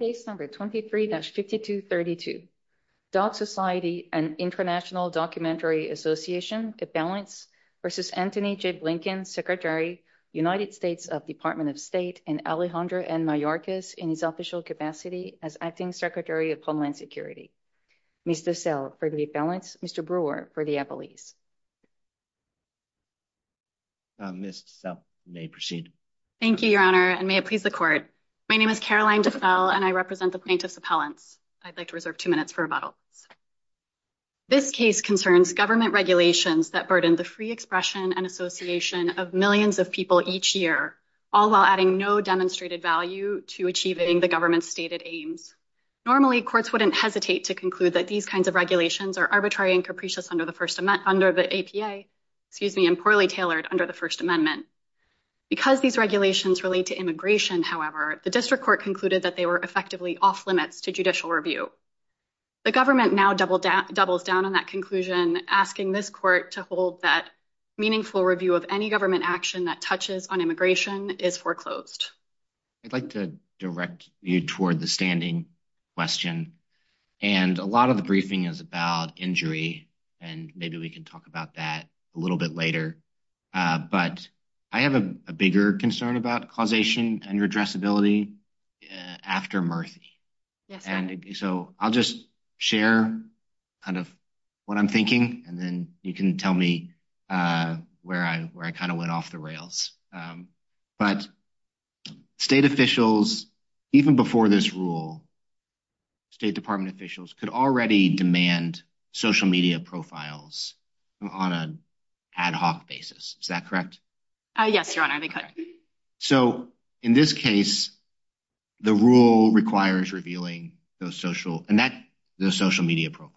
Case number 23-5232, Dog Society and International Documentary Association, a balance, v. Antony J. Blinken, Secretary, United States of Department of State, and Alejandro N. Mayorkas in his official capacity as Acting Secretary of Homeland Security. Ms. DeSalle for the balance, Mr. Brewer for the appellees. Ms. DeSalle, you may proceed. Thank you, Your Honor, and may it please the Court. My name is Caroline DeSalle, and I represent the plaintiff's appellants. I'd like to reserve two minutes for rebuttals. This case concerns government regulations that burden the free expression and association of millions of people each year, all while adding no demonstrated value to achieving the government's stated aims. Normally, courts wouldn't hesitate to conclude that these kinds of regulations are arbitrary and capricious under the first amendment, under the APA, excuse me, and poorly tailored under the first amendment. Because these regulations relate to immigration, however, the district court concluded that they were effectively off-limits to judicial review. The government now doubles down on that conclusion, asking this court to hold that meaningful review of any government action that touches on immigration is foreclosed. I'd like to direct you toward the standing question, and a lot of the briefing is about injury, and maybe we can talk about that a little bit later. But I have a bigger concern about causation and redressability after Murthy. So I'll just share kind of what I'm thinking, and then you can tell me where I kind of went off the rails. But state officials, even before this rule, state department officials could already demand social media profiles on an ad hoc basis. Is that correct? Yes, your honor. So in this case, the rule requires revealing those social and that those social media profiles.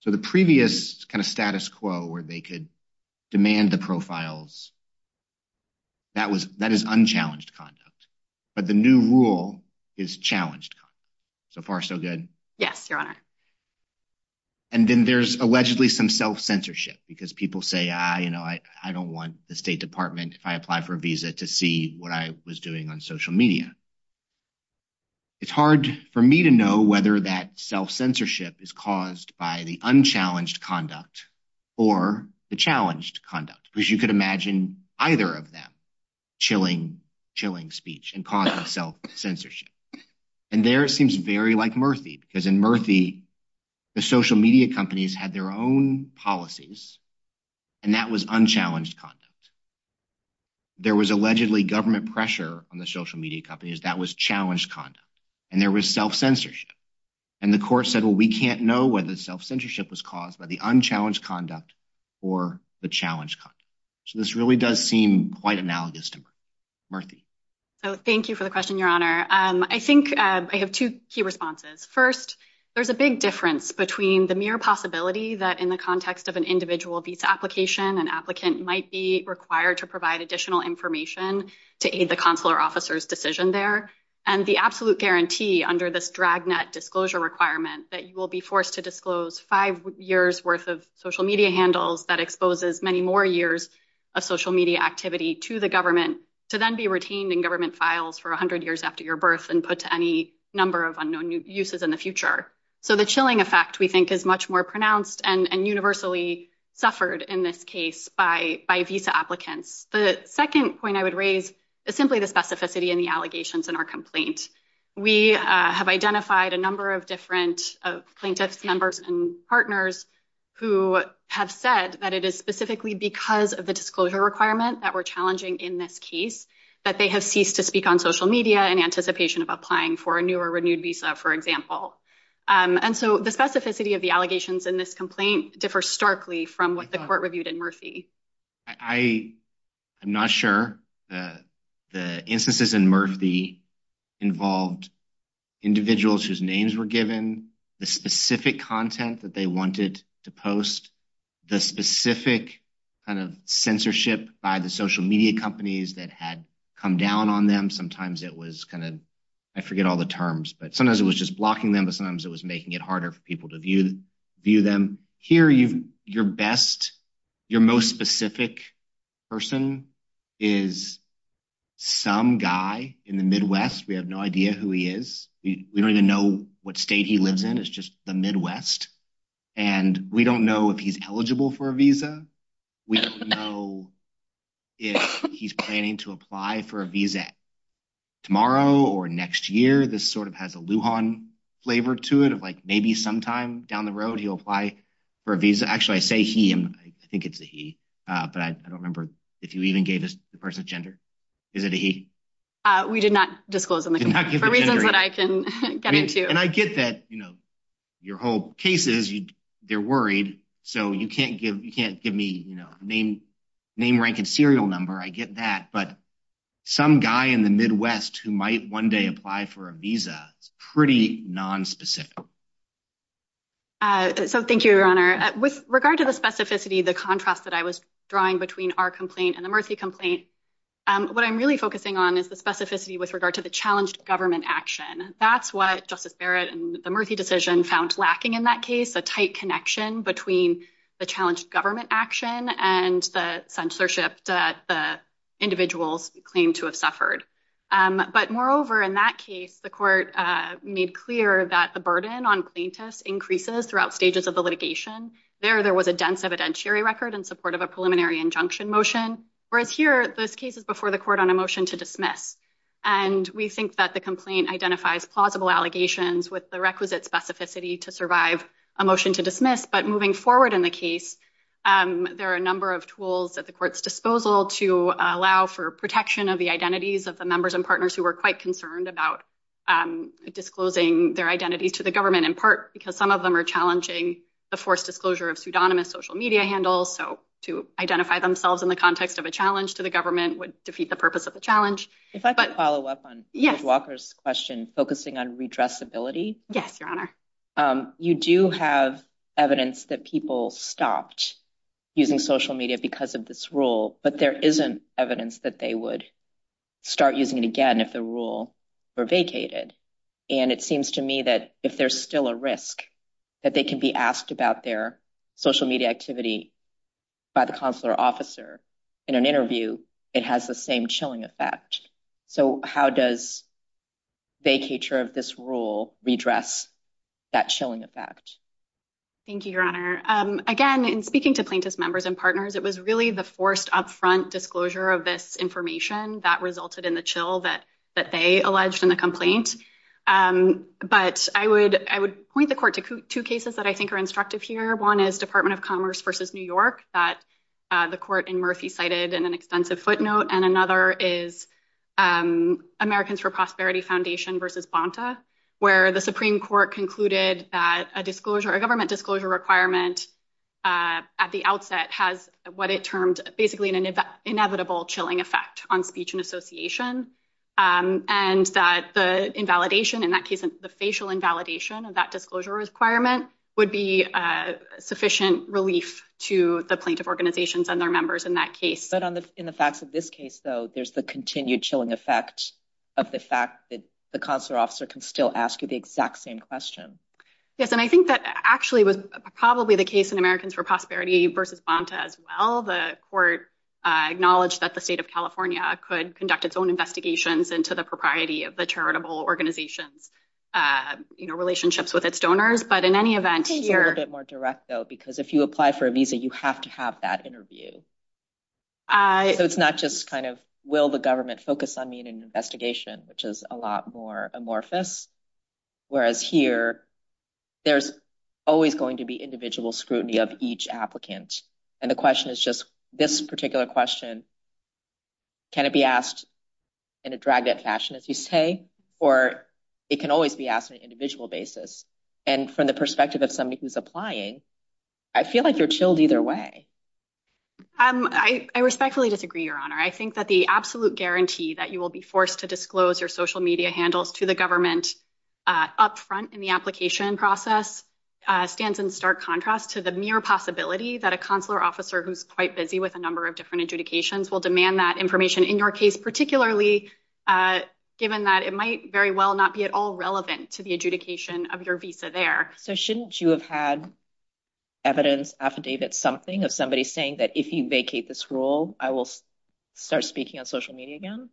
So the previous kind of status quo where they could demand the profiles, that is unchallenged conduct. But the new rule is challenged. So far, so good. Yes, your honor. And then there's allegedly some self-censorship because people say, I don't want the state department if I apply for a visa to see what I was doing on social media. It's hard for me to know whether that self-censorship is caused by the unchallenged conduct or the challenged conduct, because you could imagine either of them chilling, chilling speech and causing self-censorship. And there it seems very like Murthy, because in Murthy, the social media companies had their own policies, and that was unchallenged conduct. There was allegedly government pressure on the social media companies that was challenged conduct, and there was self-censorship. And the court said, well, we can't know whether self-censorship was caused by the unchallenged conduct or the challenged conduct. So this really does seem quite analogous to Murthy. So thank you for the question, your honor. I think I have two key responses. First, there's a big difference between the mere possibility that in the context of an individual visa application, an applicant might be required to provide additional information to aid the consular officer's decision there. And the absolute guarantee under this dragnet disclosure requirement that you will be forced to disclose five years worth of social media handles that exposes many more years of social media activity to the government to then be retained in government files for 100 years after your birth and put to any number of unknown uses in the future. So the chilling effect we think is much more pronounced and universally suffered in this case by visa applicants. The second point I would raise is simply the specificity in the allegations in our complaint. We have identified a number of different plaintiffs members and partners who have said that it is specifically because of the disclosure requirement that we're challenging in this case that they have ceased to speak on social media in anticipation of applying for a new or renewed visa, for example. And so the specificity of the allegations in this complaint differ starkly from what the court reviewed in Murphy. I'm not sure. The instances in Murphy involved individuals whose names were given, the specific content that they wanted to post, the specific kind of censorship by the social media companies that had come down on them. Sometimes it was kind of, I forget all the terms, but sometimes it was just blocking them, but sometimes it was making it harder for people to view them. Here, your best, your most specific person is some guy in the Midwest. We have no idea who he is. We don't even know what state he lives in. It's just the Midwest. And we don't know if he's eligible for a visa. We don't know if he's planning to apply for a visa tomorrow or next year. This sort of has a Lujan flavor to it of like maybe sometime down the road, he'll apply for a visa. Actually, I say he, I think it's a he, but I don't remember if you even gave us the person's gender. Is it a he? We did not disclose him for reasons that I can get into. And I get that, you know, your whole case is you, they're worried. So you can't give, you can't give me, you know, name, name, rank, and serial number. I get that. But some guy in the Midwest who might one day apply for a visa, it's pretty nonspecific. So thank you, Your Honor. With regard to the specificity, the contrast that I was drawing between our complaint and the Murthy complaint, what I'm really focusing on is the specificity with regard to the challenged government action. That's what Justice Barrett and the Murthy decision found lacking in that case, a tight connection between the challenged government action and the censorship that the individuals claimed to have suffered. But moreover, in that case, the court made clear that the burden on plaintiffs increases throughout stages of the litigation. There, there was a dense evidentiary record in support of a preliminary injunction motion. Whereas here, this case is before the court on a motion to dismiss. And we think that the complaint identifies plausible allegations with the requisite specificity to survive a motion to dismiss. But moving forward in the case, there are a number of tools at the court's disposal to allow for protection of the identities of the members and partners who were quite concerned about disclosing their identities to the government, in part, because some of them are challenging the forced disclosure of pseudonymous social media handles. So to identify themselves in the context of a challenge to the government would defeat the challenge. If I could follow up on Judge Walker's question, focusing on redressability. Yes, Your Honor. You do have evidence that people stopped using social media because of this rule, but there isn't evidence that they would start using it again if the rule were vacated. And it seems to me that if there's still a risk that they can be asked about their social media activity by the consular officer in an interview, it has the same chilling effect. So how does vacature of this rule redress that chilling effect? Thank you, Your Honor. Again, in speaking to plaintiffs' members and partners, it was really the forced upfront disclosure of this information that resulted in the chill that they alleged in the complaint. But I would point the court to two cases that I think are instructive here. One is Department of Commerce versus New York that the court in Murphy cited in an extensive footnote. And another is Americans for Prosperity Foundation versus Bonta, where the Supreme Court concluded that a disclosure, a government disclosure requirement at the outset has what it termed basically an inevitable chilling effect on speech and association. And that the invalidation, in that case, the facial invalidation of that disclosure requirement would be sufficient relief to the plaintiff organizations and their members in that case. But in the facts of this case, though, there's the continued chilling effect of the fact that the consular officer can still ask you the exact same question. Yes. And I think that actually was probably the case in Americans for Prosperity versus Bonta as well. The court acknowledged that the state of California could conduct its own investigations into the propriety of the charitable organization's, you know, relationships with its donors. But in any event, here- I think it's a little bit more direct, though, because if you apply for a visa, you have to have that interview. So it's not just kind of, will the government focus on me in an investigation, which is a lot more amorphous. Whereas here, there's always going to be individual scrutiny of each applicant. And the question is just this particular question, can it be asked in a dragged-up fashion, as you say, or it can always be asked on an individual basis. And from the perspective of somebody who's applying, I feel like you're chilled either way. I respectfully disagree, Your Honor. I think that the absolute guarantee that you will be forced to disclose your social media handles to the government up front in the application process stands in stark contrast to the mere possibility that a consular officer who's quite busy with a demand that information in your case, particularly given that it might very well not be at all relevant to the adjudication of your visa there. So shouldn't you have had evidence affidavit something of somebody saying that if you vacate this role, I will start speaking on social media again?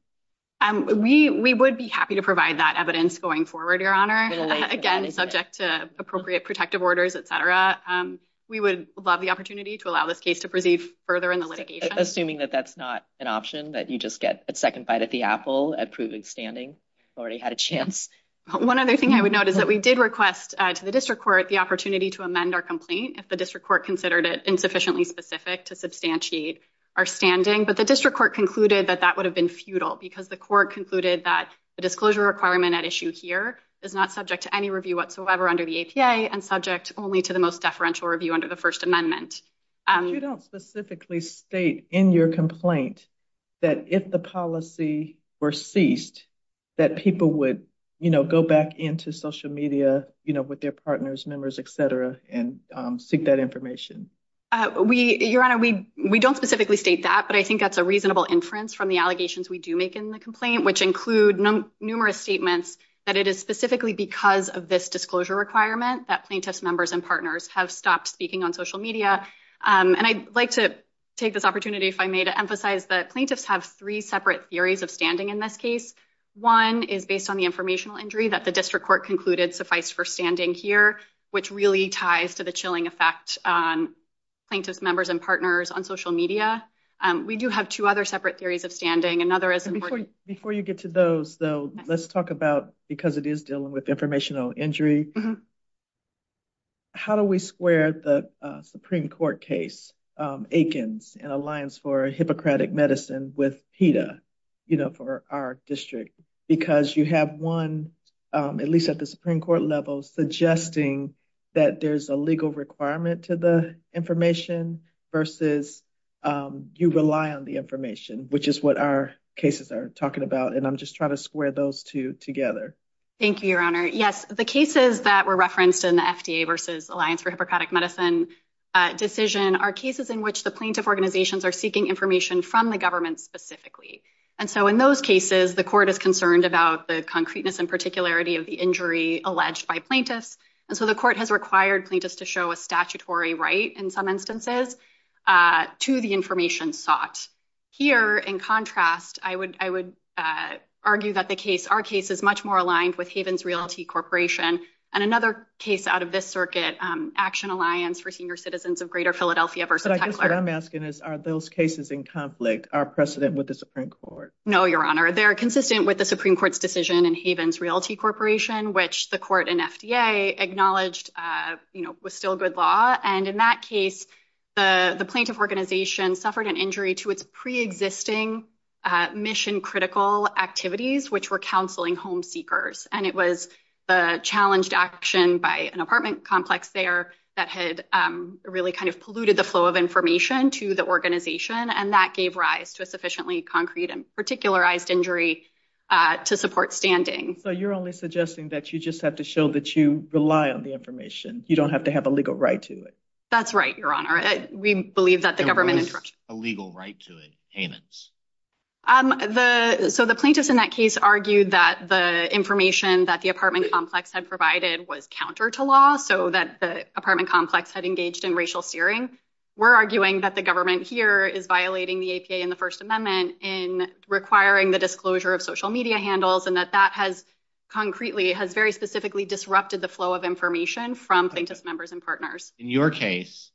We would be happy to provide that evidence going forward, Your Honor. Again, subject to appropriate protective orders, et cetera. We would love the opportunity to allow this case to proceed further in the litigation. Assuming that that's not an option, that you just get a second bite at the apple at proving standing. Already had a chance. One other thing I would note is that we did request to the district court the opportunity to amend our complaint if the district court considered it insufficiently specific to substantiate our standing. But the district court concluded that that would have been futile because the court concluded that the disclosure requirement at issue here is not subject to any review whatsoever under the APA and subject only to the most deferential review under the First Amendment. You don't specifically state in your complaint that if the policy were ceased, that people would go back into social media with their partners, members, et cetera, and seek that information. Your Honor, we don't specifically state that, but I think that's a reasonable inference from the allegations we do make in the complaint, which include numerous statements that it is specifically because of this disclosure requirement that plaintiffs, members, and partners have stopped speaking on social media. And I'd like to take this opportunity, if I may, to emphasize that plaintiffs have three separate theories of standing in this case. One is based on the informational injury that the district court concluded sufficed for standing here, which really ties to the chilling effect on plaintiffs, members, and partners on social media. We do have two other separate theories of standing. Another is... Before you get to those, though, let's talk about, because it is dealing with informational injury, how do we square the Supreme Court case Aikens and Alliance for Hippocratic Medicine with PETA, you know, for our district? Because you have one, at least at the Supreme Court level, suggesting that there's a legal requirement to the information versus you rely on the information, which is what our cases are talking about. And I'm just trying to square those two together. Thank you, Your Honor. Yes, the cases that were referenced in the FDA versus Alliance for Hippocratic Medicine decision are cases in which the plaintiff organizations are seeking information from the government specifically. And so in those cases, the court is concerned about the concreteness and particularity of the injury alleged by plaintiffs. And so the court has required plaintiffs to show a statutory right, in some instances, to the information sought. Here, in contrast, I would argue that our case is much more aligned with Havens Realty Corporation and another case out of this circuit, Action Alliance for Senior Citizens of Greater Philadelphia versus Heckler. But I guess what I'm asking is, are those cases in conflict, are precedent with the Supreme Court? No, Your Honor. They're consistent with the Supreme Court's decision in Havens Realty Corporation, which the court and FDA acknowledged was still good law. And in that case, the plaintiff organization suffered an injury to its pre-existing mission-critical activities, which were counseling home seekers. And it was the challenged action by an apartment complex there that had really kind of polluted the flow of information to the organization. And that gave rise to a sufficiently concrete and particularized injury to support standing. So you're only suggesting that you just have to show that you rely on the information. You don't have to have a legal right to it. That's right, Your Honor. We believe that the government- There was a legal right to it, Havens. So the plaintiffs in that case argued that the information that the apartment complex had provided was counter to law, so that the apartment complex had engaged in racial steering. We're in the first amendment in requiring the disclosure of social media handles and that that has concretely, has very specifically disrupted the flow of information from plaintiff's members and partners. In your case,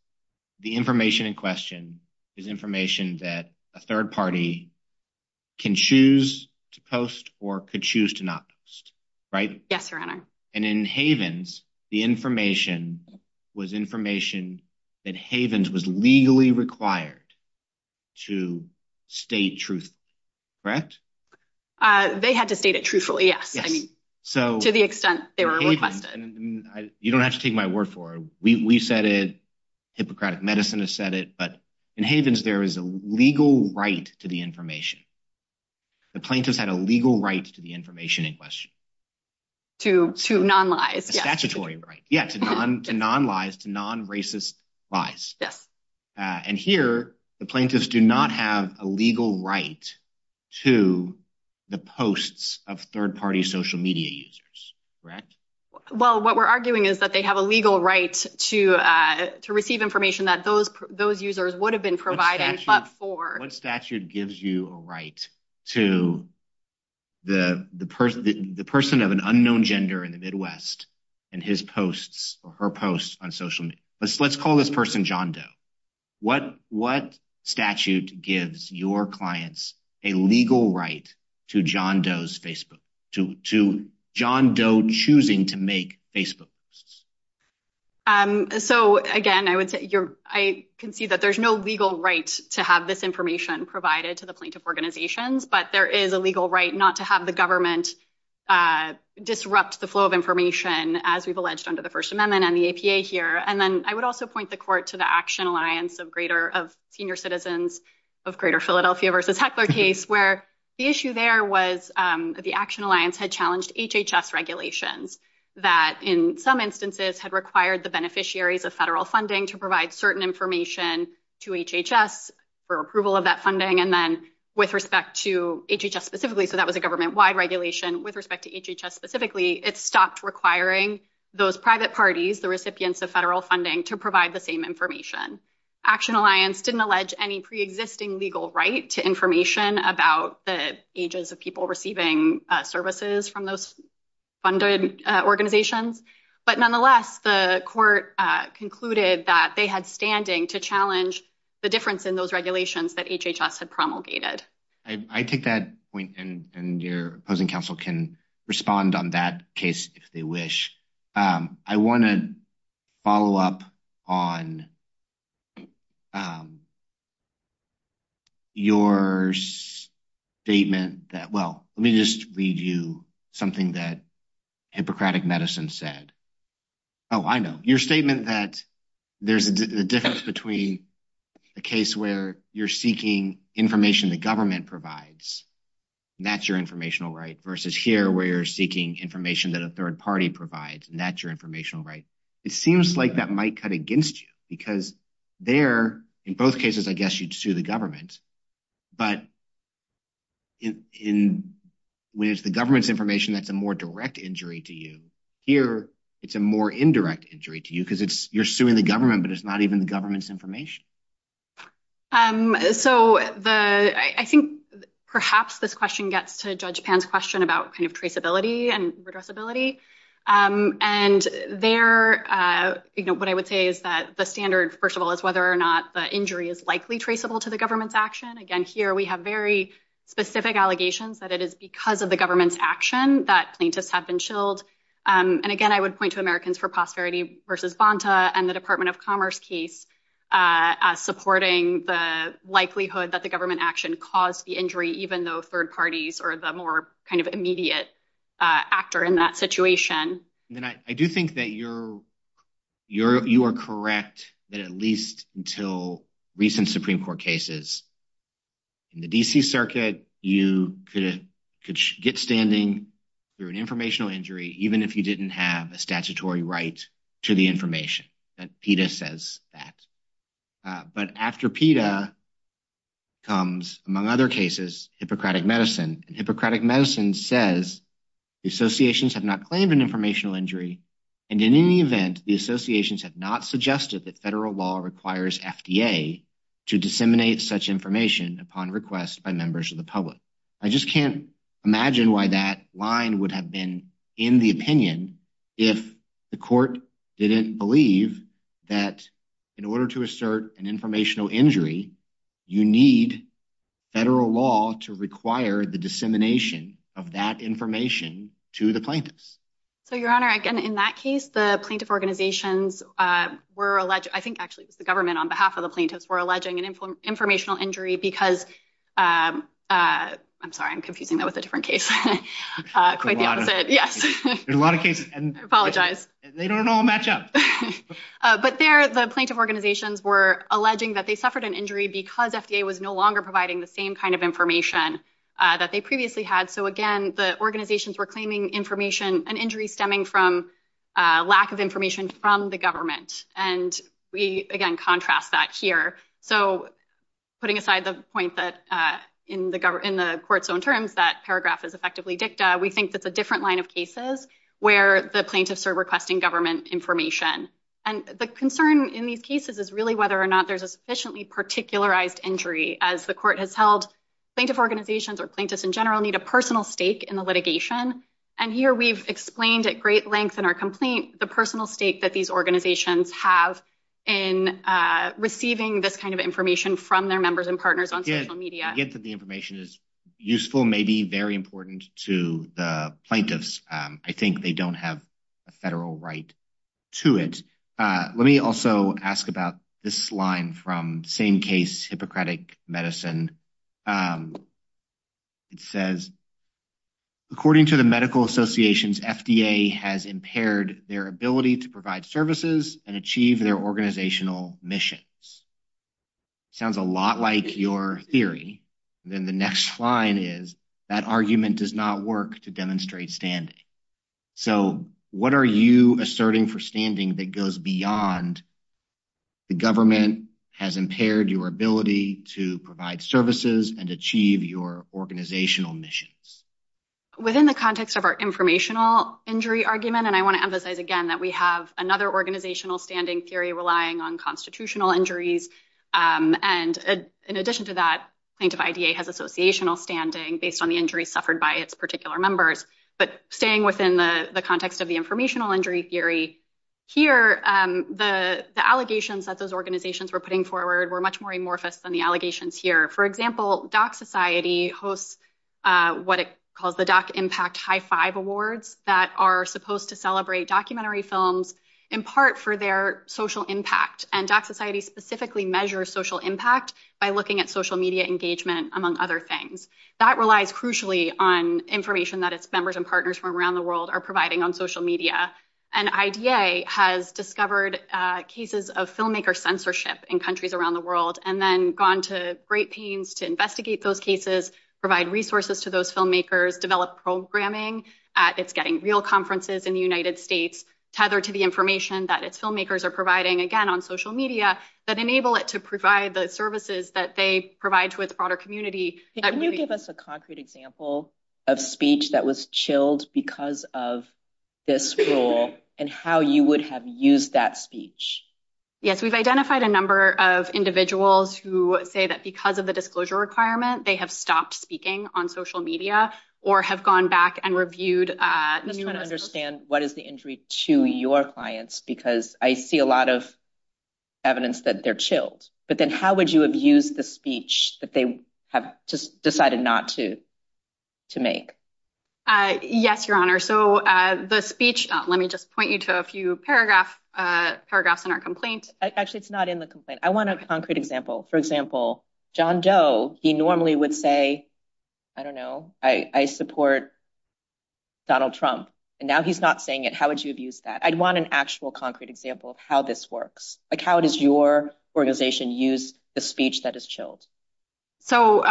the information in question is information that a third party can choose to post or could choose to not post, right? Yes, Your Honor. And in Havens, the information was information that Havens was legally required to state truth, correct? They had to state it truthfully, yes. I mean, to the extent they were requested. You don't have to take my word for it. We said it, Hippocratic Medicine has said it, but in Havens, there is a legal right to the information. The plaintiffs had a legal right to the information in question. To non-lies. A statutory right. Yeah, to non-lies, to non-racist lies. Yes. And here, the plaintiffs do not have a legal right to the posts of third party social media users, correct? Well, what we're arguing is that they have a legal right to receive information that those users would have been providing, but for. What statute gives you a right to the person of an unknown gender in the Midwest and his posts or her posts on social media? Let's call this person John Doe. What statute gives your clients a legal right to John Doe's Facebook, to John Doe choosing to make Facebook posts? So again, I can see that there's no legal right to have this information provided to the plaintiff organizations, but there is a legal right not to have the government disrupt the flow of information as we've alleged under the First Amendment and the APA here. And then I would also point the court to the Action Alliance of Senior Citizens of Greater Philadelphia versus Heckler case, where the issue there was the Action Alliance had challenged HHS regulations that in some instances had required the beneficiaries of federal funding to provide certain information to HHS for approval of that funding. And then with respect to HHS specifically, so that was a government wide regulation with respect to HHS specifically, it stopped requiring those private parties, the recipients of federal funding to provide the same information. Action Alliance didn't allege any preexisting legal right to information about the ages of receiving services from those funded organizations. But nonetheless, the court concluded that they had standing to challenge the difference in those regulations that HHS had promulgated. I take that point and your opposing counsel can respond on that case if they wish. I want to just read you something that Hippocratic Medicine said. Oh, I know. Your statement that there's a difference between a case where you're seeking information the government provides, that's your informational right, versus here where you're seeking information that a third party provides, and that's your informational right. It seems like that might cut against you because there, in both cases, I guess you'd sue the government. But when it's the government's information, that's a more direct injury to you. Here, it's a more indirect injury to you because you're suing the government, but it's not even the government's information. So I think perhaps this question gets to Judge Pan's question about traceability and redressability. And there, what I would say is that the standard, first of all, is whether or not the injury is likely traceable to the government's action. Again, here we have very specific allegations that it is because of the government's action that plaintiffs have been chilled. And again, I would point to Americans for Prosperity v. Bonta and the Department of Commerce case supporting the likelihood that the government action caused the injury, even though third parties are the more kind of immediate actor in that situation. And I do think that you are correct that at least until recent Supreme Court cases, in the D.C. Circuit, you could get standing through an informational injury, even if you didn't have a statutory right to the information. PETA says that. But after PETA comes, among other cases, Hippocratic Medicine. And Hippocratic Medicine says the associations have not claimed an informational injury. And in any event, the associations have not suggested that federal law requires FDA to disseminate such information upon request by members of the public. I just can't imagine why that line would have been in the opinion if the court didn't believe that in order to assert an informational injury, you need federal law to require the dissemination of that information to the plaintiffs. So, Your Honor, again, in that case, the plaintiff organizations were alleged. I think actually it was the government on behalf of the plaintiffs were alleging an informational injury because I'm sorry, I'm confusing that with a different case. Quite the opposite. Yes. A lot of cases. And I apologize. They don't all match up. But there, the plaintiff organizations were alleging that they suffered an injury because FDA was no longer providing the same kind of information that they previously had. So, again, the organizations were claiming information, an injury stemming from lack of information from the government. And we, again, contrast that here. So, putting aside the point that in the court's own terms, that paragraph is effectively dicta, we think that's a different line of cases where the plaintiffs are requesting government information. And the concern in these cases is really whether or not there's a sufficiently particularized injury as the court has held. Plaintiff organizations or plaintiffs in general need a personal stake in the litigation. And here we've explained at great length in our complaint the personal stake that these organizations have in receiving this kind of information from their members and partners on social media. I get that the information is useful, maybe very important to the plaintiffs. I think they don't have a federal right to it. Let me also ask about this line from Same Case Hippocratic Medicine. It says, according to the medical associations, FDA has impaired their ability to provide services and achieve their organizational missions. Sounds a lot like your theory. Then the next line is, that argument does not work to demonstrate standing. So, what are you asserting for standing that goes beyond the government has impaired your ability to provide services and achieve your organizational missions? Within the context of our informational injury argument, and I want to emphasize again that we have another organizational standing theory relying on constitutional injuries. And in addition to that, plaintiff IDA has associational standing based on the injuries suffered by its particular members. But staying within the context of the informational injury theory here, the allegations that those organizations were putting forward were much more amorphous than the allegations here. For example, Dock Society hosts what it calls the Dock Impact High Five Awards that are supposed to celebrate documentary films, in part for their social impact. And Dock Society specifically measures social impact by looking at social media engagement, among other things. That relies crucially on information that its members and partners from around the world are providing on social media. And IDA has discovered cases of filmmaker censorship in countries around the world and then gone to great pains to investigate those cases, provide resources to those filmmakers, develop programming at its getting real conferences in the United States, tethered to the information that its filmmakers are providing again on social media that enable it to provide the services that they provide to its broader community. Can you give us a concrete example of speech that was chilled because of this rule and how you would have used that speech? Yes, we've identified a number of individuals who say that because of the disclosure requirement, they have stopped speaking on social media or have gone back and reviewed. I'm just trying to understand what is the injury to your clients because I see a lot of evidence that they're chilled. But then how would you have used the speech that they have just decided not to make? Yes, Your Honor. So the speech, let me just point you to a few paragraphs in our complaint. Actually, it's not in the complaint. I want a concrete example. For example, John Doe, he normally would say, I don't know, I support Donald Trump. And now he's not saying it. How would you abuse that? I'd want an actual concrete example of how this works. How does your organization use the speech that is chilled? So,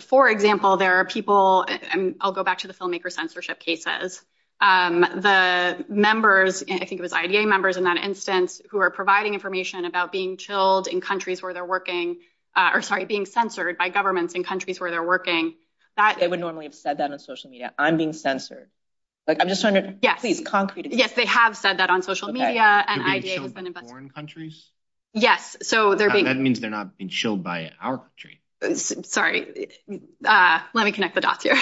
for example, there are I think it was IDA members in that instance who are providing information about being chilled in countries where they're working, or sorry, being censored by governments in countries where they're working. They would normally have said that on social media. I'm being censored. I'm just trying to, please, concrete example. Yes, they have said that on social media. They're being chilled in foreign countries? Yes. So that means they're not being chilled by our country. Sorry, let me connect the dots here.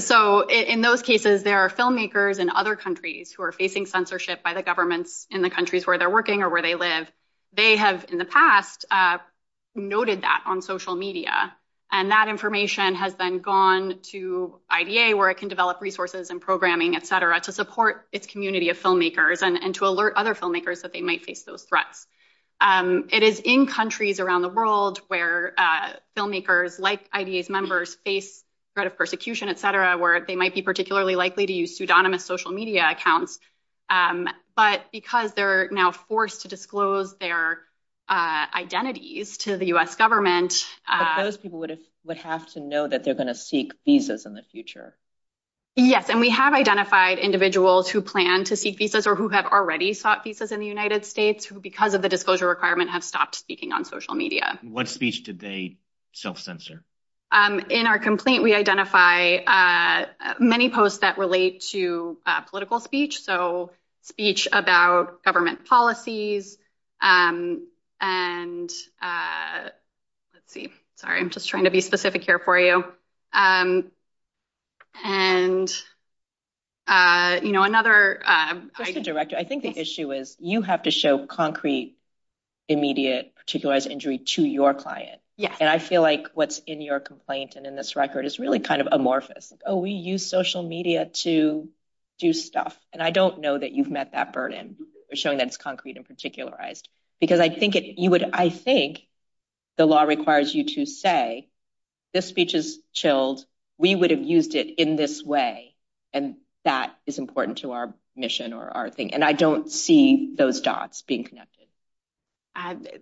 So in those cases, there are filmmakers in other countries who are facing censorship by the governments in the countries where they're working or where they live. They have in the past noted that on social media. And that information has been gone to IDA where it can develop resources and programming, et cetera, to support its community of filmmakers and to alert other filmmakers that they might face those threats. It is in countries around the world where filmmakers like IDA's face threat of persecution, et cetera, where they might be particularly likely to use pseudonymous social media accounts. But because they're now forced to disclose their identities to the U.S. government. But those people would have to know that they're going to seek visas in the future. Yes. And we have identified individuals who plan to seek visas or who have already sought visas in the United States who, because of the disclosure requirement, have stopped speaking on social media. What speech did they self-censor? In our complaint, we identify many posts that relate to political speech. So speech about government policies and let's see. Sorry, I'm just trying to be specific here for you. And, you know, another. Director, I think the issue is you have to show concrete, immediate, particularized injury to your client. And I feel like what's in your complaint and in this record is really kind of amorphous. Oh, we use social media to do stuff. And I don't know that you've met that burden of showing that it's concrete and particularized, because I think it you would. I think the law requires you to say this speech is chilled. We would have used it in this way. And that is important to our mission or our thing. I don't see those dots being connected.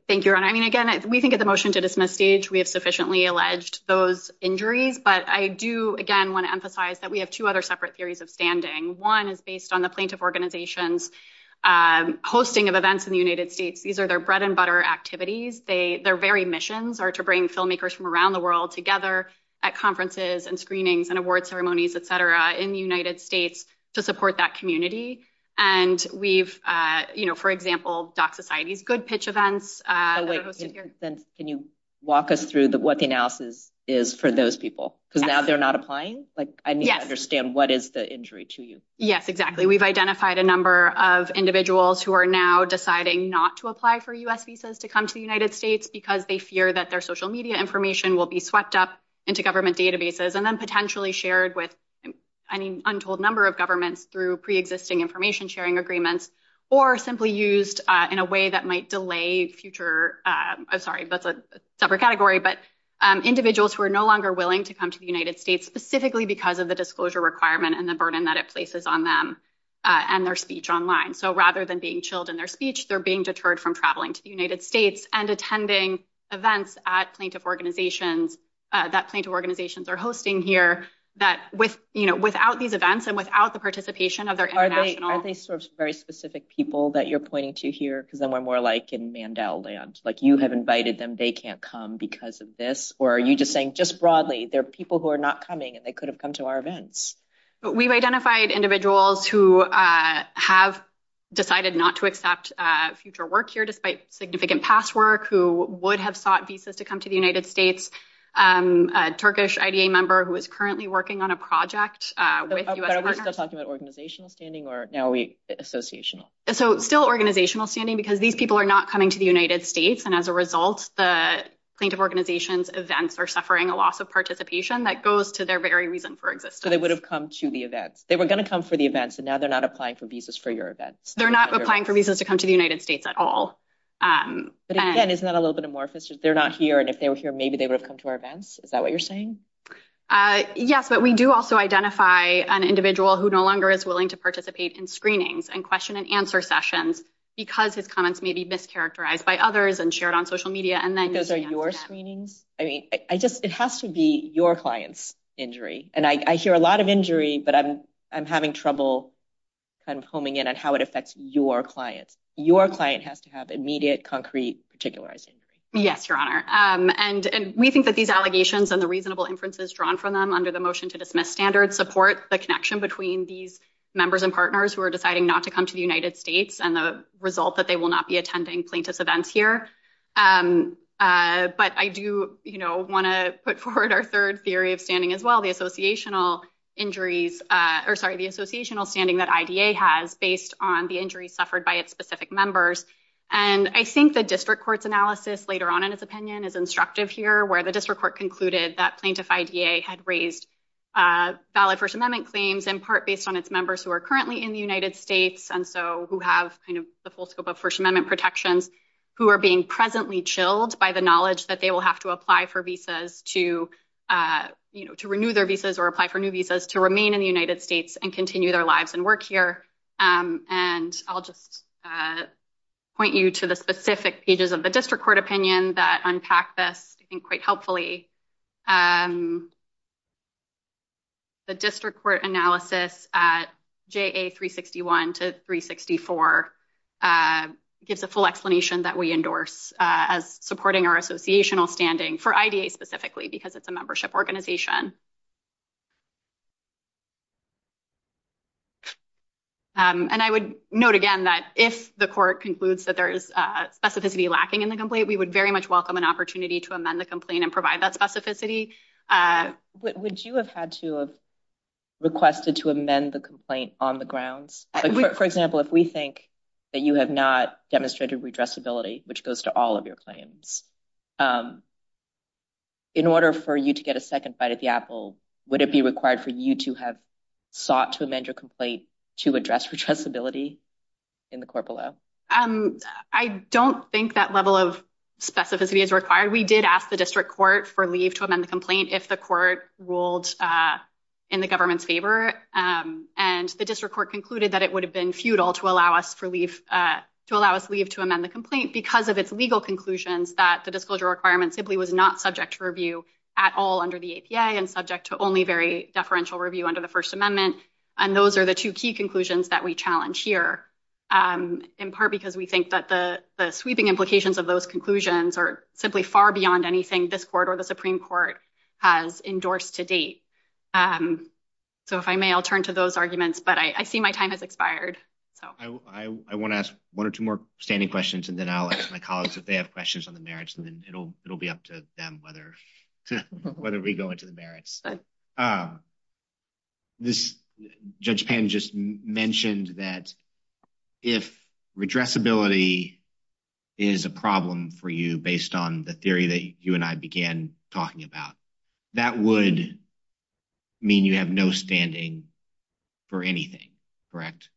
Thank you. I mean, again, we think of the motion to dismiss stage. We have sufficiently alleged those injuries. But I do, again, want to emphasize that we have two other separate theories of standing. One is based on the plaintiff organizations hosting of events in the United States. These are their bread and butter activities. They their very missions are to bring filmmakers from around the world together at conferences and screenings and award ceremonies, et cetera, in the United States to support that community. And we've, you know, for example, Doc Society's good pitch events. Can you walk us through what the analysis is for those people? Because now they're not applying. Like, I mean, I understand what is the injury to you? Yes, exactly. We've identified a number of individuals who are now deciding not to apply for U.S. visas to come to the United States because they fear that their social media information will be swept up into government databases and then potentially shared with any untold number of governments through pre-existing information sharing agreements or simply used in a way that might delay future. I'm sorry, that's a separate category, but individuals who are no longer willing to come to the United States specifically because of the disclosure requirement and the burden that it places on them and their speech online. So rather than being chilled in their speech, they're being deterred from traveling to the United States and attending events at plaintiff organizations that plaintiff organizations are hosting here that without these events and without the participation of their international... Are they sort of very specific people that you're pointing to here? Because then we're more like in Mandela land, like you have invited them, they can't come because of this. Or are you just saying just broadly, there are people who are not coming and they could have come to our events. We've identified individuals who have decided not to accept future work here, despite significant past work, who would have sought visas to come to the United States. A Turkish IDA member who is currently working on a project with U.S. partners. Are we still talking about organizational standing or now are we associational? So still organizational standing because these people are not coming to the United States and as a result, the plaintiff organizations events are suffering a loss of participation that goes to their very reason for existence. So they would have come to the events. They were going to come for the events and now they're not applying for visas for your events. They're not applying for visas to come to the United States at all. But again, isn't that a little bit amorphous? They're not here. And if they were here, maybe they would have come to our events. Is that what you're saying? Yes, but we do also identify an individual who no longer is willing to participate in screenings and question and answer sessions because his comments may be mischaracterized by others and shared on social media. And then those are your screenings. I mean, I just it has to be your client's injury. And I hear a lot of injury, but I'm I'm having trouble kind of homing in on how it affects your clients. Your client has to have immediate, concrete, particularizing. Yes, Your Honor. And we think that these allegations and the reasonable inferences drawn from them under the motion to dismiss standards support the connection between these members and partners who are deciding not to come to the United States and the result that they will not be attending plaintiff's events here. But I do want to put forward our third theory of standing as well, the associational injuries or sorry, the associational standing that IDA has based on the injuries suffered by its specific members. And I think the district court's analysis later on in its opinion is instructive here where the district court concluded that plaintiff IDA had raised valid First Amendment claims in part based on its members who are currently in the United States and so who have kind of the full scope of First Amendment protections who are being presently chilled by the knowledge that they will have to apply for visas to, you know, to renew their visas or apply for new visas to remain in the United States and continue their lives and work here. And I'll just point you to the specific pages of the district court opinion that unpack this I think quite helpfully. The district court analysis at JA 361 to 364 gives a full explanation that we endorse as supporting our associational standing for IDA specifically because it's a And I would note again that if the court concludes that there is specificity lacking in the complaint, we would very much welcome an opportunity to amend the complaint and provide that specificity. Would you have had to have requested to amend the complaint on the grounds? For example, if we think that you have not demonstrated redressability, which goes to all of your claims, in order for you to get a second bite at the apple, would it be required for you to have sought to amend your complaint to address redressability in the court below? I don't think that level of specificity is required. We did ask the district court for leave to amend the complaint if the court ruled in the government's favor. And the district court concluded that it would have been futile to allow us for leave, to allow us leave to amend the complaint because of its legal conclusions that the disclosure requirements simply was not subject to review at all under the APA and subject to only very review under the First Amendment. And those are the two key conclusions that we challenge here, in part because we think that the sweeping implications of those conclusions are simply far beyond anything this court or the Supreme Court has endorsed to date. So if I may, I'll turn to those arguments, but I see my time has expired. So I want to ask one or two more standing questions, and then I'll ask my colleagues if they have questions on the merits, and then it'll be up to them whether we go into the merits. This, Judge Pan just mentioned that if redressability is a problem for you based on the theory that you and I began talking about, that would mean you have no standing for anything, correct?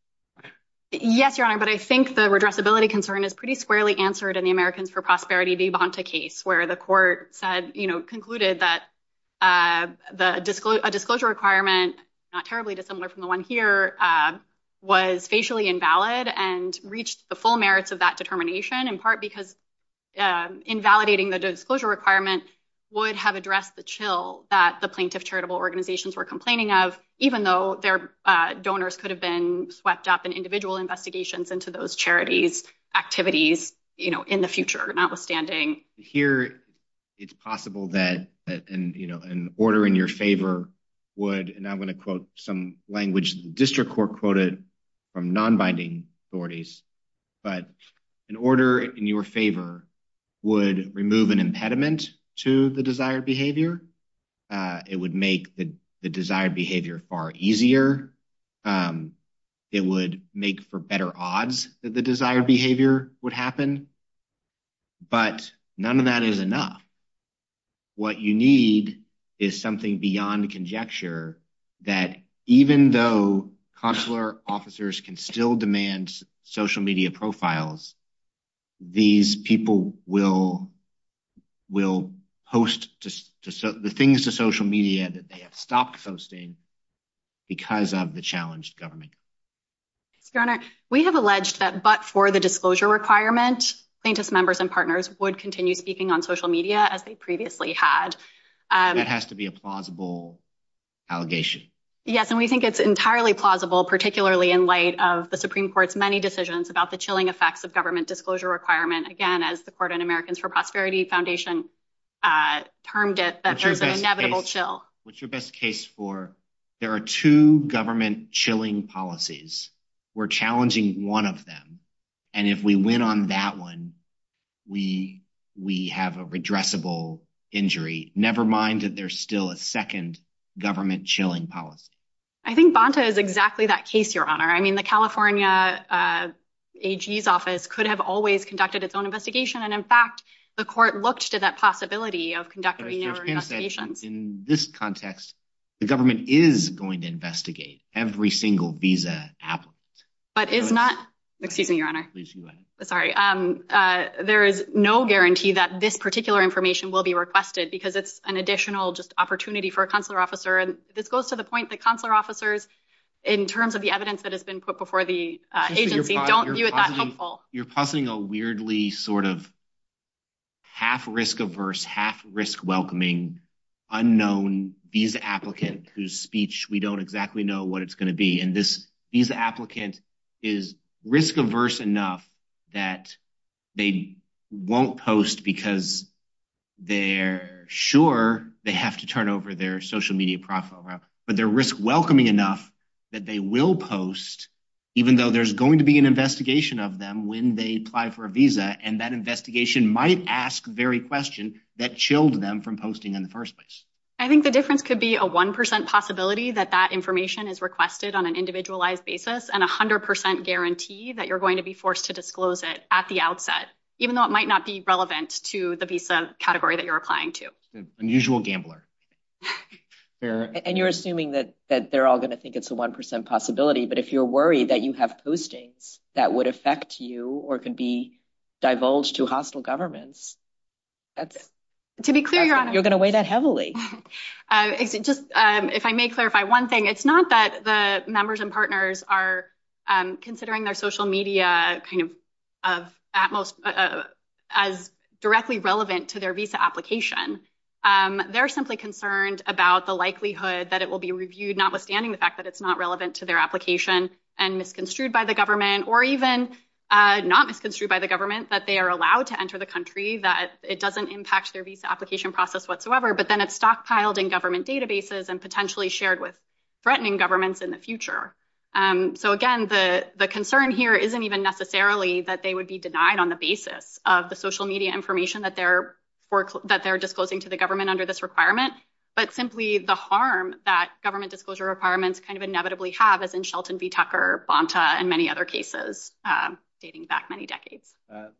Yes, Your Honor, but I think the redressability concern is pretty squarely answered in the Americans for Prosperity de Bonta case where the court said, you know, not terribly dissimilar from the one here, was facially invalid and reached the full merits of that determination, in part because invalidating the disclosure requirement would have addressed the chill that the plaintiff charitable organizations were complaining of, even though their donors could have been swept up in individual investigations into those charities' activities in the future, notwithstanding. Here, it's possible that an order in your favor would, and I'm going to quote some language the district court quoted from non-binding authorities, but an order in your favor would remove an impediment to the desired behavior. It would make the desired behavior far easier. It would make for better odds that the desired conjecture that even though consular officers can still demand social media profiles, these people will host the things to social media that they have stopped hosting because of the challenged government. Your Honor, we have alleged that but for the disclosure requirement, plaintiffs' members and partners would continue speaking on social media as they had. That has to be a plausible allegation. Yes, and we think it's entirely plausible, particularly in light of the Supreme Court's many decisions about the chilling effects of government disclosure requirement. Again, as the Court and Americans for Prosperity Foundation termed it, that there's an inevitable chill. What's your best case for there are two government chilling policies. We're challenging one of them, and if we win on that one, we have a redressable injury, never mind that there's still a second government chilling policy. I think Bonta is exactly that case, Your Honor. I mean, the California AG's office could have always conducted its own investigation, and in fact, the Court looked to that possibility of conducting investigations. In this context, the government is going to investigate every single visa applicant. But is not, excuse me, Your Honor. Please go ahead. Sorry. There is no guarantee that this particular information will be requested because it's an additional just opportunity for a consular officer. And this goes to the point that consular officers, in terms of the evidence that has been put before the agency, don't view it that helpful. You're positing a weirdly sort of half risk averse, half risk welcoming, unknown visa applicant whose speech we don't exactly know what it's going to be. And this visa applicant is risk averse enough that they won't post because they're sure they have to turn over their social media profile. But they're risk welcoming enough that they will post, even though there's going to be an investigation of them when they apply for a visa. And that investigation might ask the very question that chilled them from posting in the first place. I think the difference could be a 1% possibility that that information is requested on an individualized basis and 100% guarantee that you're going to be forced to disclose it at the category that you're applying to. Unusual gambler. And you're assuming that they're all going to think it's a 1% possibility. But if you're worried that you have postings that would affect you or could be divulged to hostile governments, you're going to weigh that heavily. If I may clarify one thing, it's not that the members and partners are considering their social application. They're simply concerned about the likelihood that it will be reviewed, notwithstanding the fact that it's not relevant to their application and misconstrued by the government or even not misconstrued by the government, that they are allowed to enter the country, that it doesn't impact their visa application process whatsoever, but then it's stockpiled in government databases and potentially shared with threatening governments in the future. So again, the concern here isn't even necessarily that they would be denied on the basis of the media information that they're disclosing to the government under this requirement, but simply the harm that government disclosure requirements kind of inevitably have as in Shelton v. Tucker, Bonta, and many other cases dating back many decades.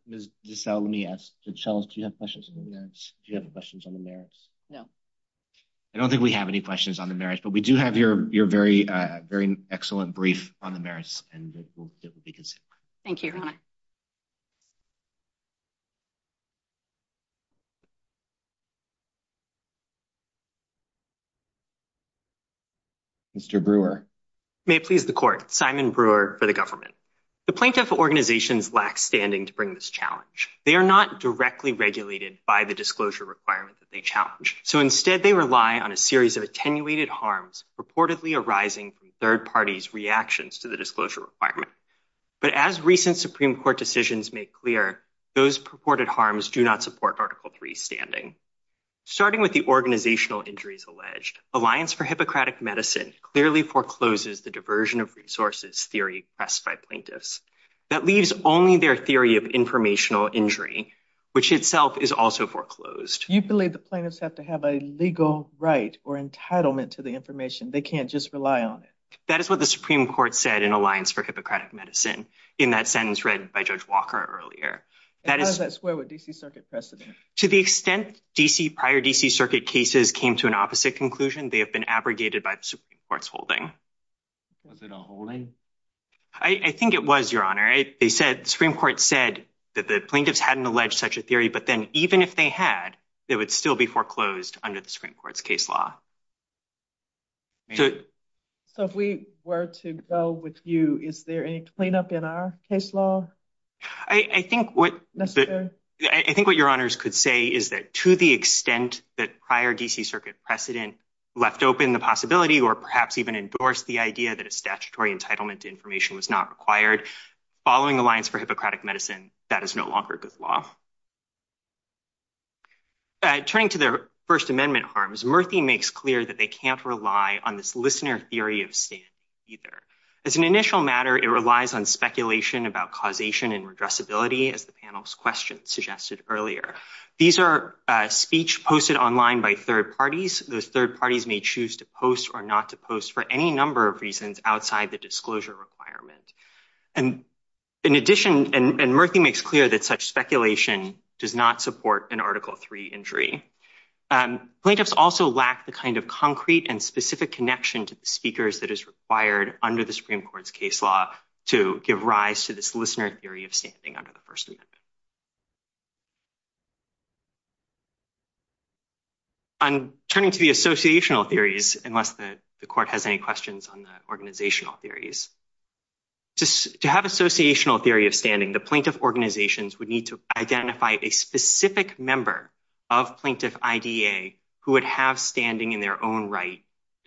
Ms. DeSalle, let me ask, do you have questions on the merits? No. I don't think we have any questions on the merits, but we do have your very excellent brief on the merits, and it will be considered. Thank you. Thank you. Mr. Brewer. May it please the Court, Simon Brewer for the government. The plaintiff organizations lack standing to bring this challenge. They are not directly regulated by the disclosure requirement that they challenge, so instead they rely on a series of attenuated harms purportedly arising from third parties' reactions to the disclosure requirement. But as recent Supreme Court decisions make clear, those purported harms do not support Article III's standing. Starting with the organizational injuries alleged, Alliance for Hippocratic Medicine clearly forecloses the diversion of resources theory expressed by plaintiffs. That leaves only their theory of informational injury, which itself is also foreclosed. You believe the plaintiffs have to have a legal right or entitlement to the information. They can't just rely on it. That is what the Supreme Court said in Alliance for Hippocratic Medicine in that sentence read by Judge Walker earlier. And how does that square with D.C. Circuit precedent? To the extent prior D.C. Circuit cases came to an opposite conclusion, they have been abrogated by the Supreme Court's holding. Was it a holding? I think it was, Your Honor. They said the Supreme Court said that the plaintiffs hadn't alleged such a theory, but then even if they had, it would still be foreclosed under the Supreme Court's case law. So if we were to go with you, is there any clean-up in our case law? I think what your honors could say is that to the extent that prior D.C. Circuit precedent left open the possibility or perhaps even endorsed the idea that a statutory entitlement to information was not required, following Alliance for Hippocratic Medicine, that is no longer good law. Turning to their First Amendment harms, Murthy makes clear that they can't rely on this listener theory of standing either. As an initial matter, it relies on speculation about causation and redressability, as the panel's question suggested earlier. These are speech posted online by third parties. Those third parties may choose to post or not to post for any number of reasons outside the disclosure requirement. And in addition, and Murthy makes clear that such speculation does not support an Article III injury. And plaintiffs also lack the kind of concrete and specific connection to the speakers that is required under the Supreme Court's case law to give rise to this listener theory of standing under the First Amendment. I'm turning to the associational theories, unless the court has any questions on the organizational theories. To have associational theory of standing, the plaintiff organizations would need to identify a specific member of plaintiff IDA who would have standing in their own right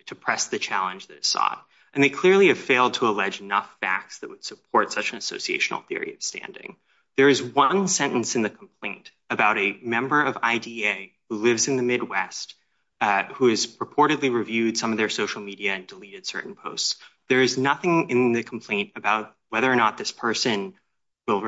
to press the challenge that is sought. And they clearly have failed to allege enough facts that would support such an associational theory of standing. There is one sentence in the complaint about a member of IDA who lives in the Midwest, who has purportedly reviewed some of their social media and deleted certain posts. There is nothing in the complaint about whether or not this person will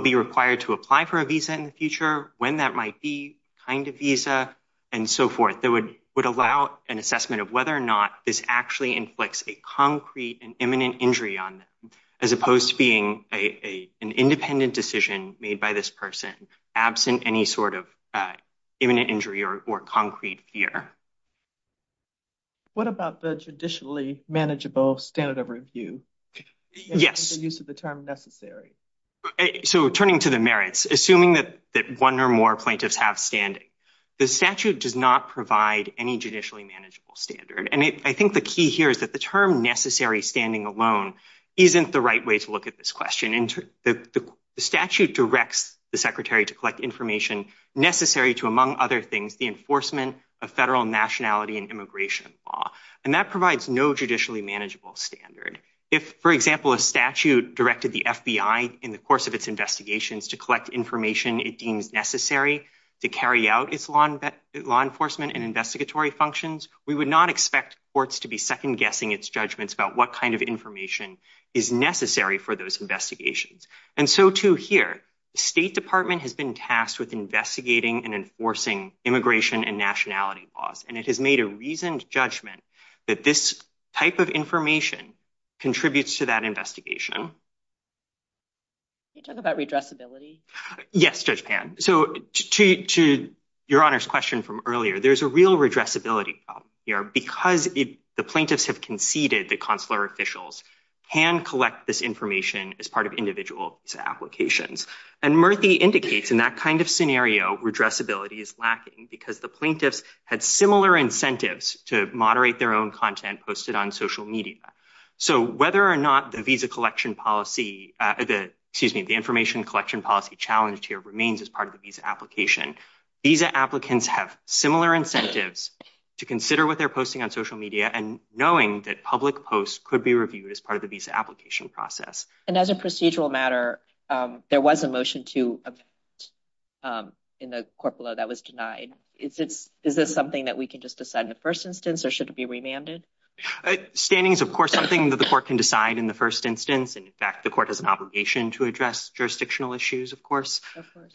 be required to apply for a visa in the future, when that might be, kind of visa, and so forth that would allow an assessment of whether or not this actually inflicts a concrete and imminent injury on them, as opposed to being an independent decision made by this person, absent any sort of imminent injury or concrete fear. What about the traditionally manageable standard of review? Yes. So turning to the merits, assuming that one or more plaintiffs have standing, the statute does not provide any judicially manageable standard. And I think the key here is that the term necessary standing alone isn't the right way to look at this question. The statute directs the secretary to collect information necessary to, among other things, the enforcement of federal nationality and immigration law. And that provides no judicially manageable standard. If, for example, a statute directed the FBI in the course of its investigations to collect information it deems necessary to carry out its law enforcement and investigatory functions, we would not expect courts to be second-guessing its judgments about what kind of information is necessary for those investigations. And so, too, here, the State Department has been tasked with investigating and enforcing immigration and nationality laws. And it has made a reasoned judgment that this type of information contributes to that investigation. Can you talk about redressability? Yes, Judge Pan. So to Your Honor's question from earlier, there's a real redressability problem here because the plaintiffs have conceded that consular officials can collect this information as part of individual visa applications. And Murthy indicates in that kind of scenario redressability is lacking because the plaintiffs had similar incentives to moderate their own content posted on social media. So whether or not the visa collection policy, excuse me, the information collection policy challenge here remains as part of the visa application, visa applicants have similar incentives to consider what they're posting on social media and knowing that public posts could be reviewed as part of the visa application process. And as a procedural matter, there was a motion to in the court below that was denied. Is this something that we can just decide in the first instance or should it be remanded? Standing is, of course, something that the court can decide in the first instance. And in fact, the court has an obligation to address jurisdictional issues, of course. But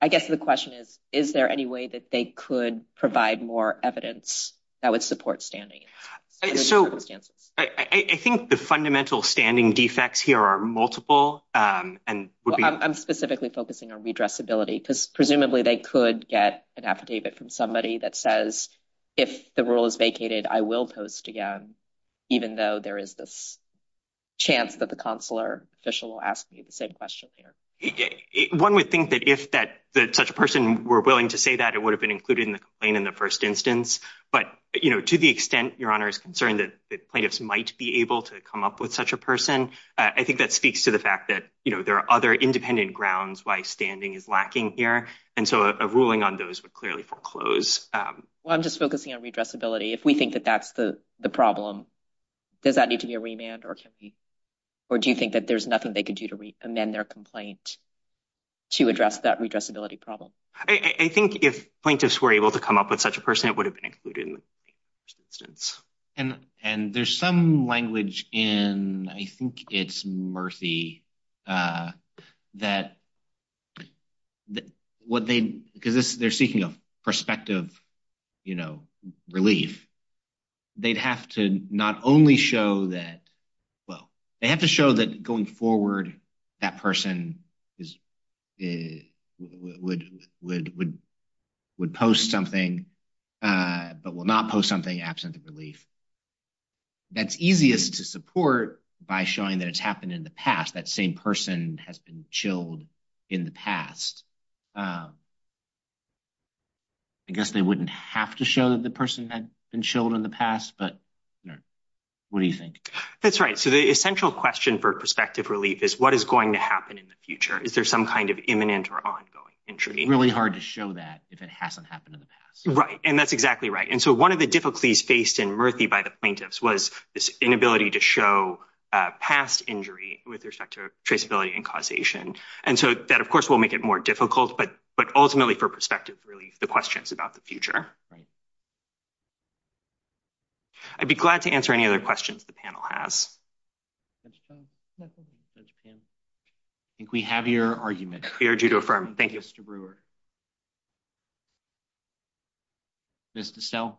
I guess the question is, is there any way that they could provide more evidence that would support standing? So I think the fundamental standing defects here are multiple and I'm specifically focusing on redressability because presumably they could get an affidavit from somebody that says, if the rule is vacated, I will post again, even though there is this chance that the consular official will ask me the same question here. One would think that if that such a person were willing to say that it would have been concerned that plaintiffs might be able to come up with such a person. I think that speaks to the fact that there are other independent grounds why standing is lacking here. And so a ruling on those would clearly foreclose. Well, I'm just focusing on redressability. If we think that that's the problem, does that need to be a remand? Or do you think that there's nothing they could do to amend their complaint to address that redressability problem? I think if plaintiffs were able to come up with such a person, it would have been included in the instance. And there's some language in, I think it's Murthy, that what they, because they're seeking a perspective, you know, relief. They'd have to not only show that, well, they have to show that going forward, that person is, would post something, but will not post something absent of relief. That's easiest to support by showing that it's happened in the past, that same person has been chilled in the past. I guess they wouldn't have to show that the person had been chilled in the past, but what do you think? That's right. The essential question for perspective relief is what is going to happen in the future? Is there some kind of imminent or ongoing injury? Really hard to show that if it hasn't happened in the past. Right. And that's exactly right. And so one of the difficulties faced in Murthy by the plaintiffs was this inability to show past injury with respect to traceability and causation. And so that, of course, will make it more difficult, but ultimately for perspective relief, the question is about the future. I'd be glad to answer any other questions the panel has. I think we have your argument. We urge you to affirm. Thank you. Mr. Brewer. Ms. Distel.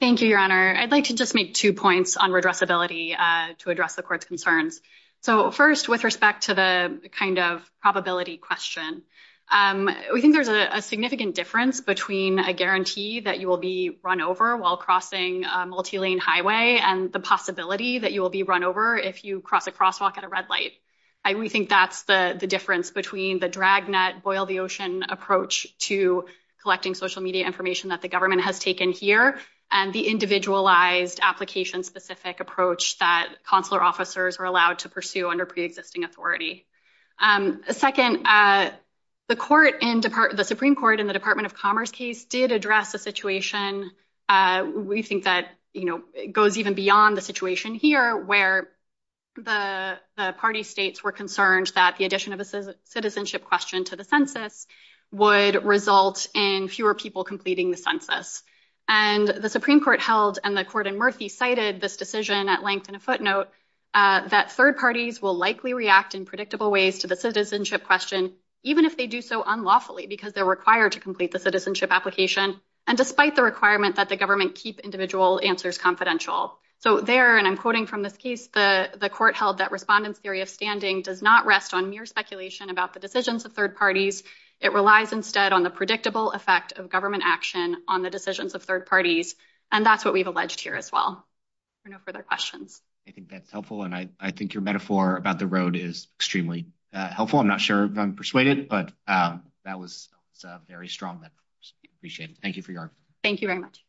Thank you, Your Honor. I'd like to just make two points on redressability to address the court's concerns. So first, with respect to the kind of probability question, we think there's a significant difference between a guarantee that you will be run over while multi-lane highway and the possibility that you will be run over if you cross a crosswalk at a red light. We think that's the difference between the dragnet boil the ocean approach to collecting social media information that the government has taken here and the individualized application specific approach that consular officers are allowed to pursue under pre-existing authority. Second, the Supreme Court in the Department of Commerce case did address a situation we think that goes even beyond the situation here, where the party states were concerned that the addition of a citizenship question to the census would result in fewer people completing the census. And the Supreme Court held and the court in Murphy cited this decision at length in a footnote that third parties will likely react in predictable ways to the citizenship question, even if they do so unlawfully because they're required to complete the citizenship application and despite the requirement that the government keep individual answers confidential. So there, and I'm quoting from this case, the court held that respondents theory of standing does not rest on mere speculation about the decisions of third parties. It relies instead on the predictable effect of government action on the decisions of third parties. And that's what we've alleged here as well. No further questions. I think that's helpful. And I think your metaphor about the road is extremely helpful. I'm not sure if I'm persuaded, but that was very strong. I appreciate it. Thank you for your time. Thank you very much.